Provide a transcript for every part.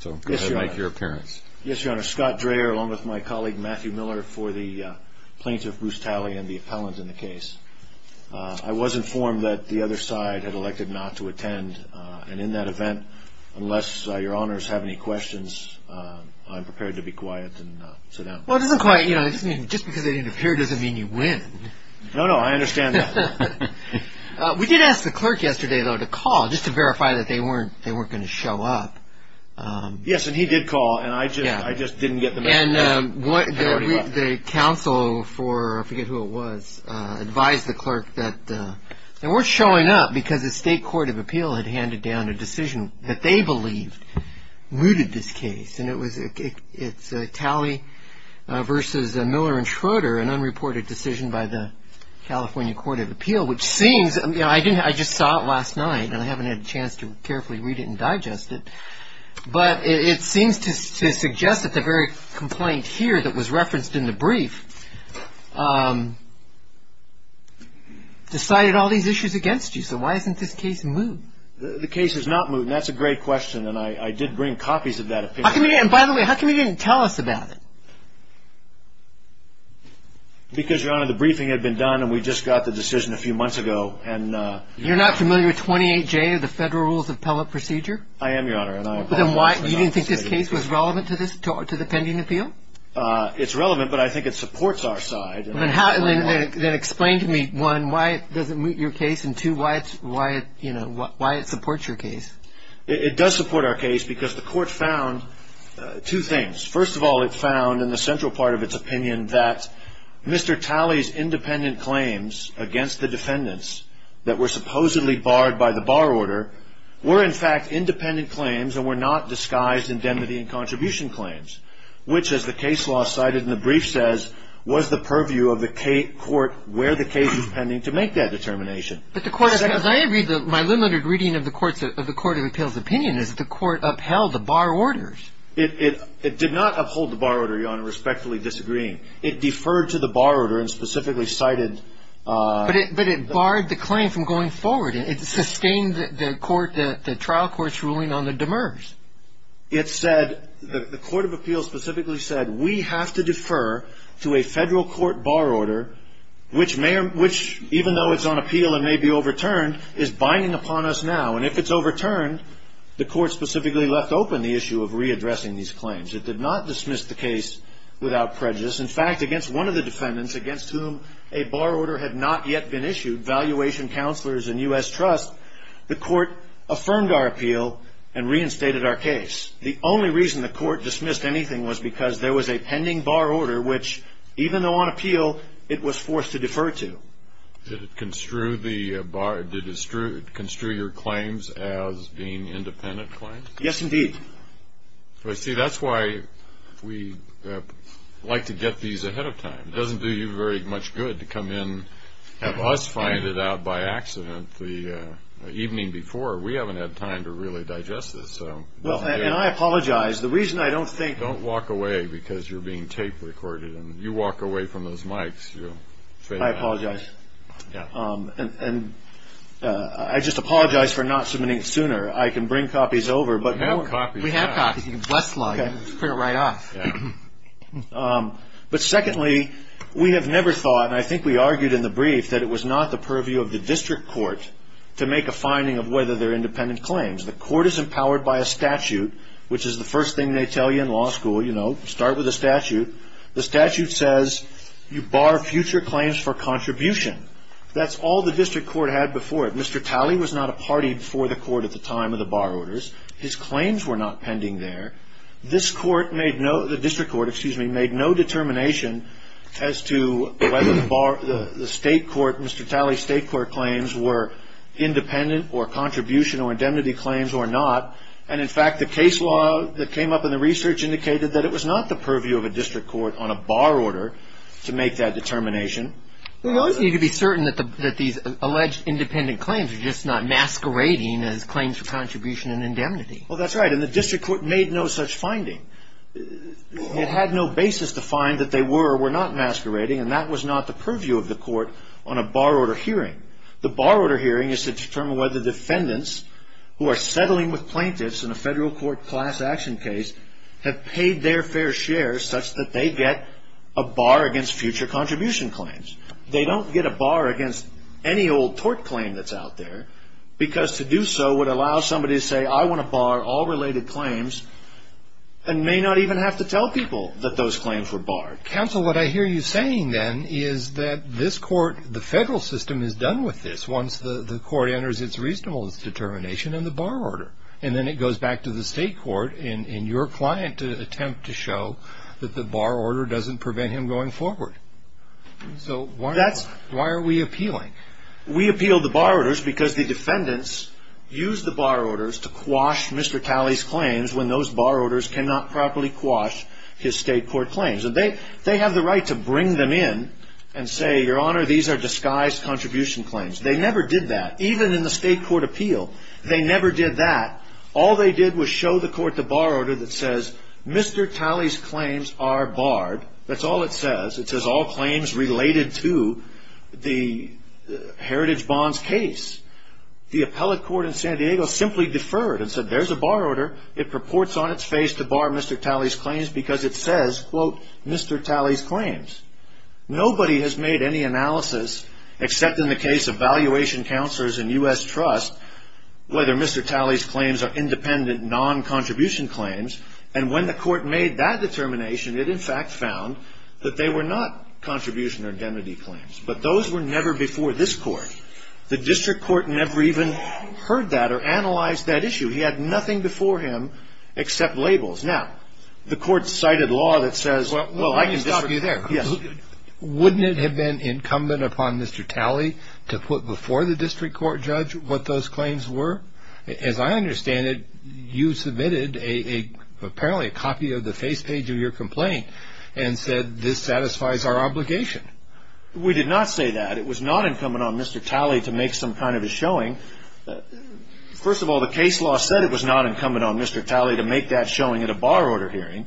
Scott Dreher, along with my colleague Matthew Miller, for the plaintiff Bruce Talley and the appellant in the case. I was informed that the other side had elected not to attend, and in that event, unless your honors have any questions, I'm prepared to be quiet and sit down. Well, it doesn't quite, you know, just because they didn't appear doesn't mean you win. No, no, I understand that. We did ask the clerk yesterday, though, to call just to verify that they weren't going to show up. Yes, and he did call, and I just didn't get the message. And the counsel for, I forget who it was, advised the clerk that they weren't showing up because the state court of appeal had handed down a decision that they believed mooted this case. And it was Talley v. Miller and Schroeder, an unreported decision by the California court of appeal, which seems, you know, I just saw it last night, and I haven't had a chance to carefully read it and digest it, but it seems to suggest that the very complaint here that was referenced in the brief decided all these issues against you. So why isn't this case moot? The case is not moot, and that's a great question, and I did bring copies of that opinion. And by the way, how come you didn't tell us about it? Because, Your Honor, the briefing had been done, and we just got the decision a few months ago. You're not familiar with 28J of the Federal Rules of Appellate Procedure? I am, Your Honor. You didn't think this case was relevant to the pending appeal? It's relevant, but I think it supports our side. Then explain to me, one, why it doesn't moot your case, and two, why it supports your case. It does support our case because the court found two things. First of all, it found in the central part of its opinion that Mr. Talley's independent claims against the defendants that were supposedly barred by the bar order were, in fact, independent claims and were not disguised indemnity and contribution claims, which, as the case law cited in the brief says, was the purview of the court where the case was pending to make that determination. But the court, as I agree, my limited reading of the Court of Appeals' opinion is that the court upheld the bar orders. It did not uphold the bar order, Your Honor, respectfully disagreeing. It deferred to the bar order and specifically cited – But it barred the claim from going forward. It sustained the court, the trial court's ruling on the demers. It said, the Court of Appeals specifically said, we have to defer to a federal court bar order, which even though it's on appeal and may be overturned, is binding upon us now. And if it's overturned, the court specifically left open the issue of readdressing these claims. It did not dismiss the case without prejudice. In fact, against one of the defendants against whom a bar order had not yet been issued, Valuation Counselors and U.S. Trust, the court affirmed our appeal and reinstated our case. The only reason the court dismissed anything was because there was a pending bar order, which even though on appeal, it was forced to defer to. Did it construe your claims as being independent claims? Yes, indeed. See, that's why we like to get these ahead of time. It doesn't do you very much good to come in and have us find it out by accident the evening before. We haven't had time to really digest this. And I apologize. The reason I don't think... Don't walk away because you're being tape recorded, and you walk away from those mics. I apologize. And I just apologize for not submitting it sooner. I can bring copies over, but... We have copies. We have copies. You can bust log it and print it right off. But secondly, we have never thought, and I think we argued in the brief, that it was not the purview of the district court to make a finding of whether they're independent claims. The court is empowered by a statute, which is the first thing they tell you in law school. You know, start with a statute. The statute says you bar future claims for contribution. That's all the district court had before it. Mr. Talley was not a party before the court at the time of the bar orders. His claims were not pending there. This court made no... the district court, excuse me, made no determination as to whether the state court... And, in fact, the case law that came up in the research indicated that it was not the purview of a district court on a bar order to make that determination. We always need to be certain that these alleged independent claims are just not masquerading as claims for contribution and indemnity. Well, that's right, and the district court made no such finding. It had no basis to find that they were or were not masquerading, and that was not the purview of the court on a bar order hearing. The bar order hearing is to determine whether defendants who are settling with plaintiffs in a federal court class action case have paid their fair share such that they get a bar against future contribution claims. They don't get a bar against any old tort claim that's out there because to do so would allow somebody to say, I want to bar all related claims and may not even have to tell people that those claims were barred. Counsel, what I hear you saying, then, is that this court, the federal system, is done with this once the court enters its reasonable determination in the bar order, and then it goes back to the state court in your client's attempt to show that the bar order doesn't prevent him going forward. So why are we appealing? We appeal the bar orders because the defendants use the bar orders to quash Mr. Talley's claims when those bar orders cannot properly quash his state court claims. And they have the right to bring them in and say, Your Honor, these are disguised contribution claims. They never did that, even in the state court appeal. They never did that. All they did was show the court the bar order that says Mr. Talley's claims are barred. That's all it says. It says all claims related to the Heritage Bonds case. The appellate court in San Diego simply deferred and said there's a bar order. It purports on its face to bar Mr. Talley's claims because it says, quote, Mr. Talley's claims. Nobody has made any analysis, except in the case of valuation counselors in U.S. Trust, whether Mr. Talley's claims are independent, non-contribution claims. And when the court made that determination, it in fact found that they were not contribution or indemnity claims. But those were never before this court. The district court never even heard that or analyzed that issue. He had nothing before him except labels. Now, the court cited law that says, well, I can district. Let me stop you there. Wouldn't it have been incumbent upon Mr. Talley to put before the district court judge what those claims were? As I understand it, you submitted apparently a copy of the face page of your complaint and said, This satisfies our obligation. We did not say that. It was not incumbent on Mr. Talley to make some kind of a showing. First of all, the case law said it was not incumbent on Mr. Talley to make that showing at a bar order hearing.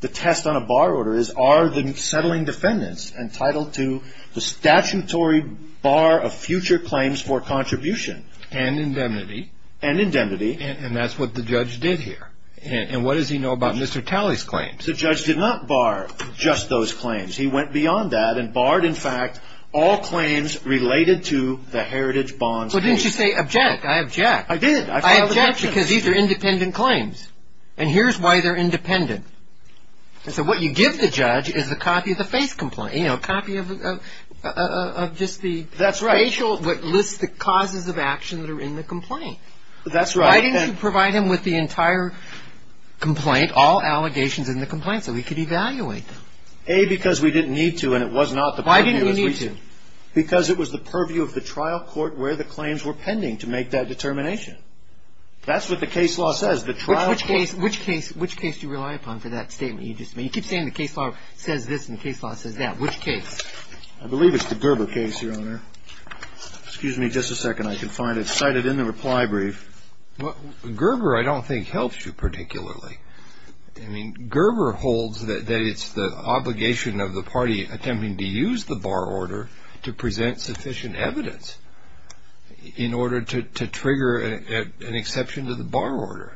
The test on a bar order is, are the settling defendants entitled to the statutory bar of future claims for contribution? And indemnity. And indemnity. And that's what the judge did here. And what does he know about Mr. Talley's claims? The judge did not bar just those claims. He went beyond that and barred, in fact, all claims related to the heritage bonds. Well, didn't you say object? I object. I did. I filed an objection. I object because these are independent claims. And here's why they're independent. So what you give the judge is a copy of the face complaint. You know, a copy of just the facial, what lists the causes of action that are in the complaint. That's right. Why didn't you provide him with the entire complaint, all allegations in the complaint, so he could evaluate them? Why didn't we need to? Because it was the purview of the trial court where the claims were pending to make that determination. That's what the case law says. The trial court. Which case do you rely upon for that statement you just made? You keep saying the case law says this and the case law says that. Which case? I believe it's the Gerber case, Your Honor. Excuse me just a second. I can find it cited in the reply brief. Well, Gerber I don't think helps you particularly. I mean, Gerber holds that it's the obligation of the party attempting to use the bar order to present sufficient evidence in order to trigger an exception to the bar order.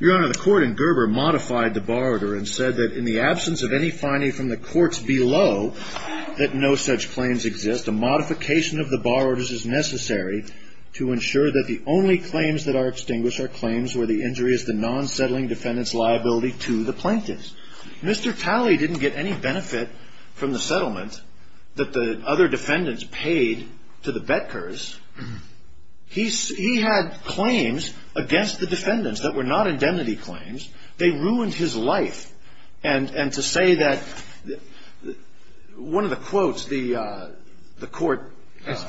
Your Honor, the court in Gerber modified the bar order and said that in the absence of any finding from the courts below that no such claims exist, a modification of the bar orders is necessary to ensure that the only claims that are extinguished are claims where the injury is the non-settling defendant's liability to the plaintiff. Mr. Talley didn't get any benefit from the settlement that the other defendants paid to the Betkers. He had claims against the defendants that were not indemnity claims. They ruined his life. And to say that one of the quotes the court.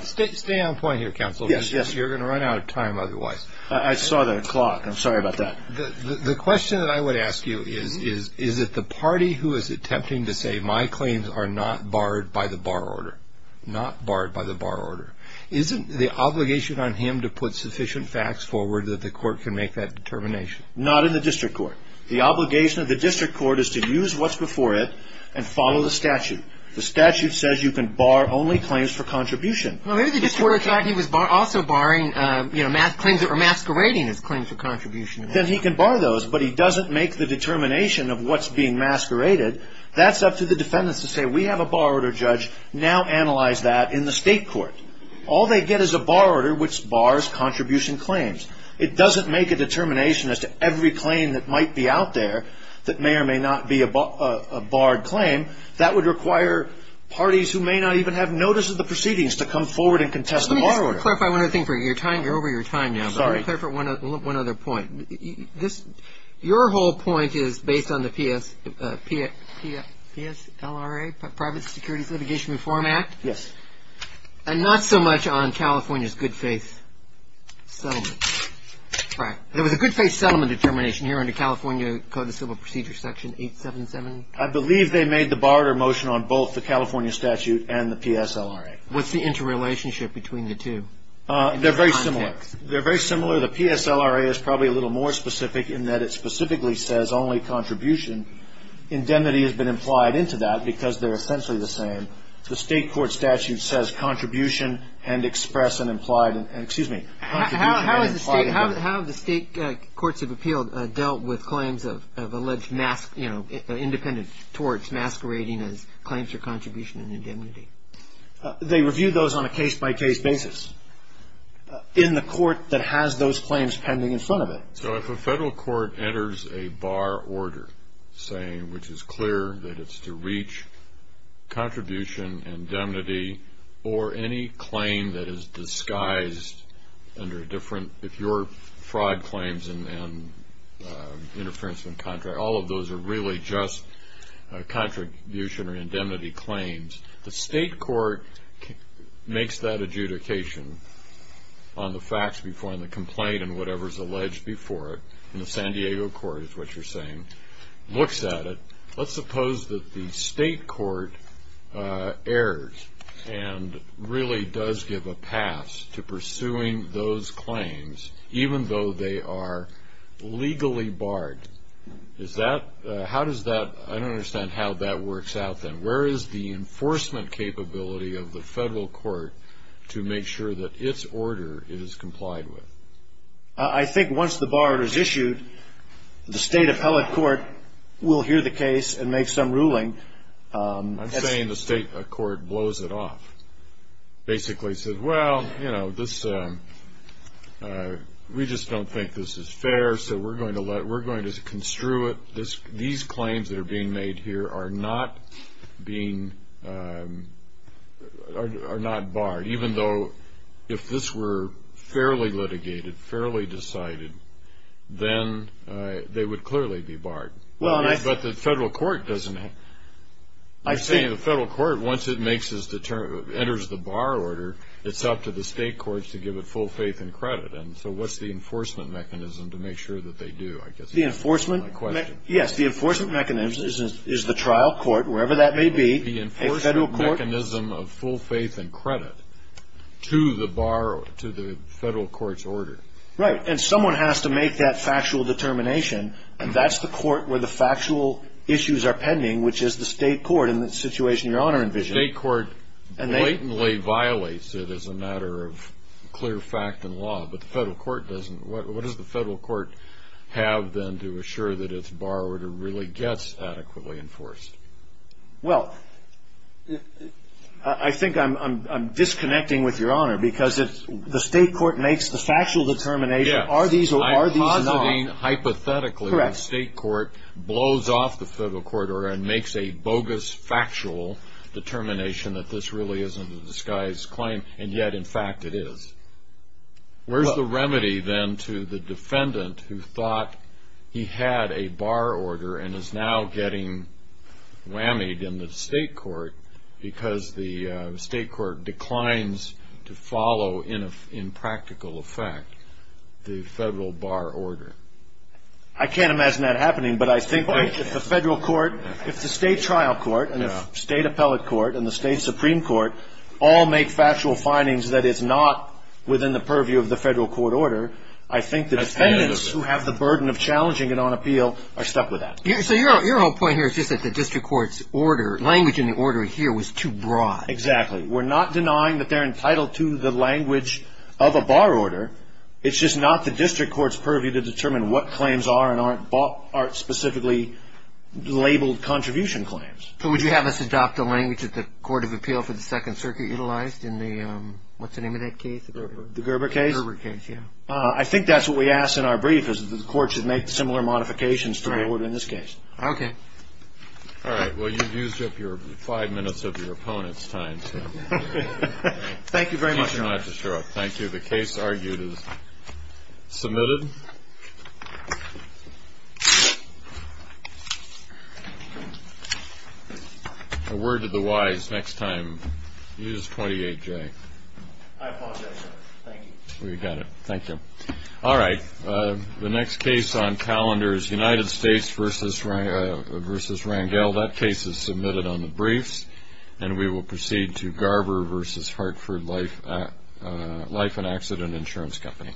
Stay on point here, counsel. Yes, yes. You're going to run out of time otherwise. I saw the clock. I'm sorry about that. The question that I would ask you is, is it the party who is attempting to say my claims are not barred by the bar order? Not barred by the bar order. Isn't the obligation on him to put sufficient facts forward that the court can make that determination? Not in the district court. The obligation of the district court is to use what's before it and follow the statute. The statute says you can bar only claims for contribution. Maybe the district court thought he was also barring claims or masquerading as claims for contribution. Then he can bar those, but he doesn't make the determination of what's being masqueraded. That's up to the defendants to say we have a bar order judge. Now analyze that in the state court. All they get is a bar order which bars contribution claims. It doesn't make a determination as to every claim that might be out there that may or may not be a barred claim. That would require parties who may not even have notice of the proceedings to come forward and contest the bar order. Let me just clarify one other thing. You're over your time now. Sorry. Let me clarify one other point. Your whole point is based on the PSLRA, Private Securities Litigation Reform Act? Yes. And not so much on California's good faith settlement. Right. There was a good faith settlement determination here under California Code of Civil Procedure Section 877. I believe they made the bar order motion on both the California statute and the PSLRA. What's the interrelationship between the two? They're very similar. They're very similar. The PSLRA is probably a little more specific in that it specifically says only contribution. Indemnity has been implied into that because they're essentially the same. The state court statute says contribution and express and implied. Excuse me. How have the state courts of appeal dealt with claims of alleged independent torts masquerading as claims for contribution and indemnity? They review those on a case-by-case basis in the court that has those claims pending in front of it. So if a federal court enters a bar order saying which is clear that it's to reach contribution, indemnity, or any claim that is disguised under a different – if you're fraud claims and interference in contract, all of those are really just contribution or indemnity claims, the state court makes that adjudication on the facts before and the complaint and whatever is alleged before it in the San Diego court is what you're saying, looks at it. Let's suppose that the state court errs and really does give a pass to pursuing those claims, even though they are legally barred. Is that – how does that – I don't understand how that works out then. Where is the enforcement capability of the federal court to make sure that its order is complied with? I think once the bar is issued, the state appellate court will hear the case and make some ruling. I'm saying the state court blows it off, basically says, well, you know, this – we just don't think this is fair, so we're going to let – we're going to construe it. These claims that are being made here are not being – are not barred, even though if this were fairly litigated, fairly decided, then they would clearly be barred. But the federal court doesn't – you're saying the federal court, once it makes its – enters the bar order, it's up to the state courts to give it full faith and credit. And so what's the enforcement mechanism to make sure that they do? I guess that's my question. The enforcement – yes, the enforcement mechanism is the trial court, wherever that may be. The enforcement mechanism of full faith and credit to the bar – to the federal court's order. Right. And someone has to make that factual determination, and that's the court where the factual issues are pending, which is the state court in the situation Your Honor envisioned. The state court blatantly violates it as a matter of clear fact and law, but the federal court doesn't. What does the federal court have, then, to assure that its bar order really gets adequately enforced? Well, I think I'm disconnecting with Your Honor, because the state court makes the factual determination, are these or are these not? I'm positing, hypothetically, the state court blows off the federal court order and makes a bogus factual determination that this really isn't a disguised claim, and yet, in fact, it is. Where's the remedy, then, to the defendant who thought he had a bar order and is now getting whammied in the state court because the state court declines to follow, in practical effect, the federal bar order? I can't imagine that happening, but I think if the federal court – if the state trial court and the state appellate court and the state supreme court all make factual findings that it's not within the purview of the federal court order, I think the defendants who have the burden of challenging it on appeal are stuck with that. So your whole point here is just that the district court's order – language in the order here was too broad. Exactly. We're not denying that they're entitled to the language of a bar order. It's just not the district court's purview to determine what claims are and aren't specifically labeled contribution claims. So would you have us adopt the language that the Court of Appeal for the Second Circuit utilized in the – what's the name of that case? The Gerber case? The Gerber case, yeah. I think that's what we asked in our brief, is that the court should make similar modifications to the order in this case. Okay. All right. Well, you've used up your five minutes of your opponent's time. Thank you very much. You don't have to show up. Thank you. The case argued is submitted. A word to the wise next time. Use 28J. I apologize, sir. Thank you. We got it. Thank you. All right. The next case on calendar is United States v. Rangel. That case is submitted on the briefs, and we will proceed to Gerber v. Hartford Life and Accident Insurance Company.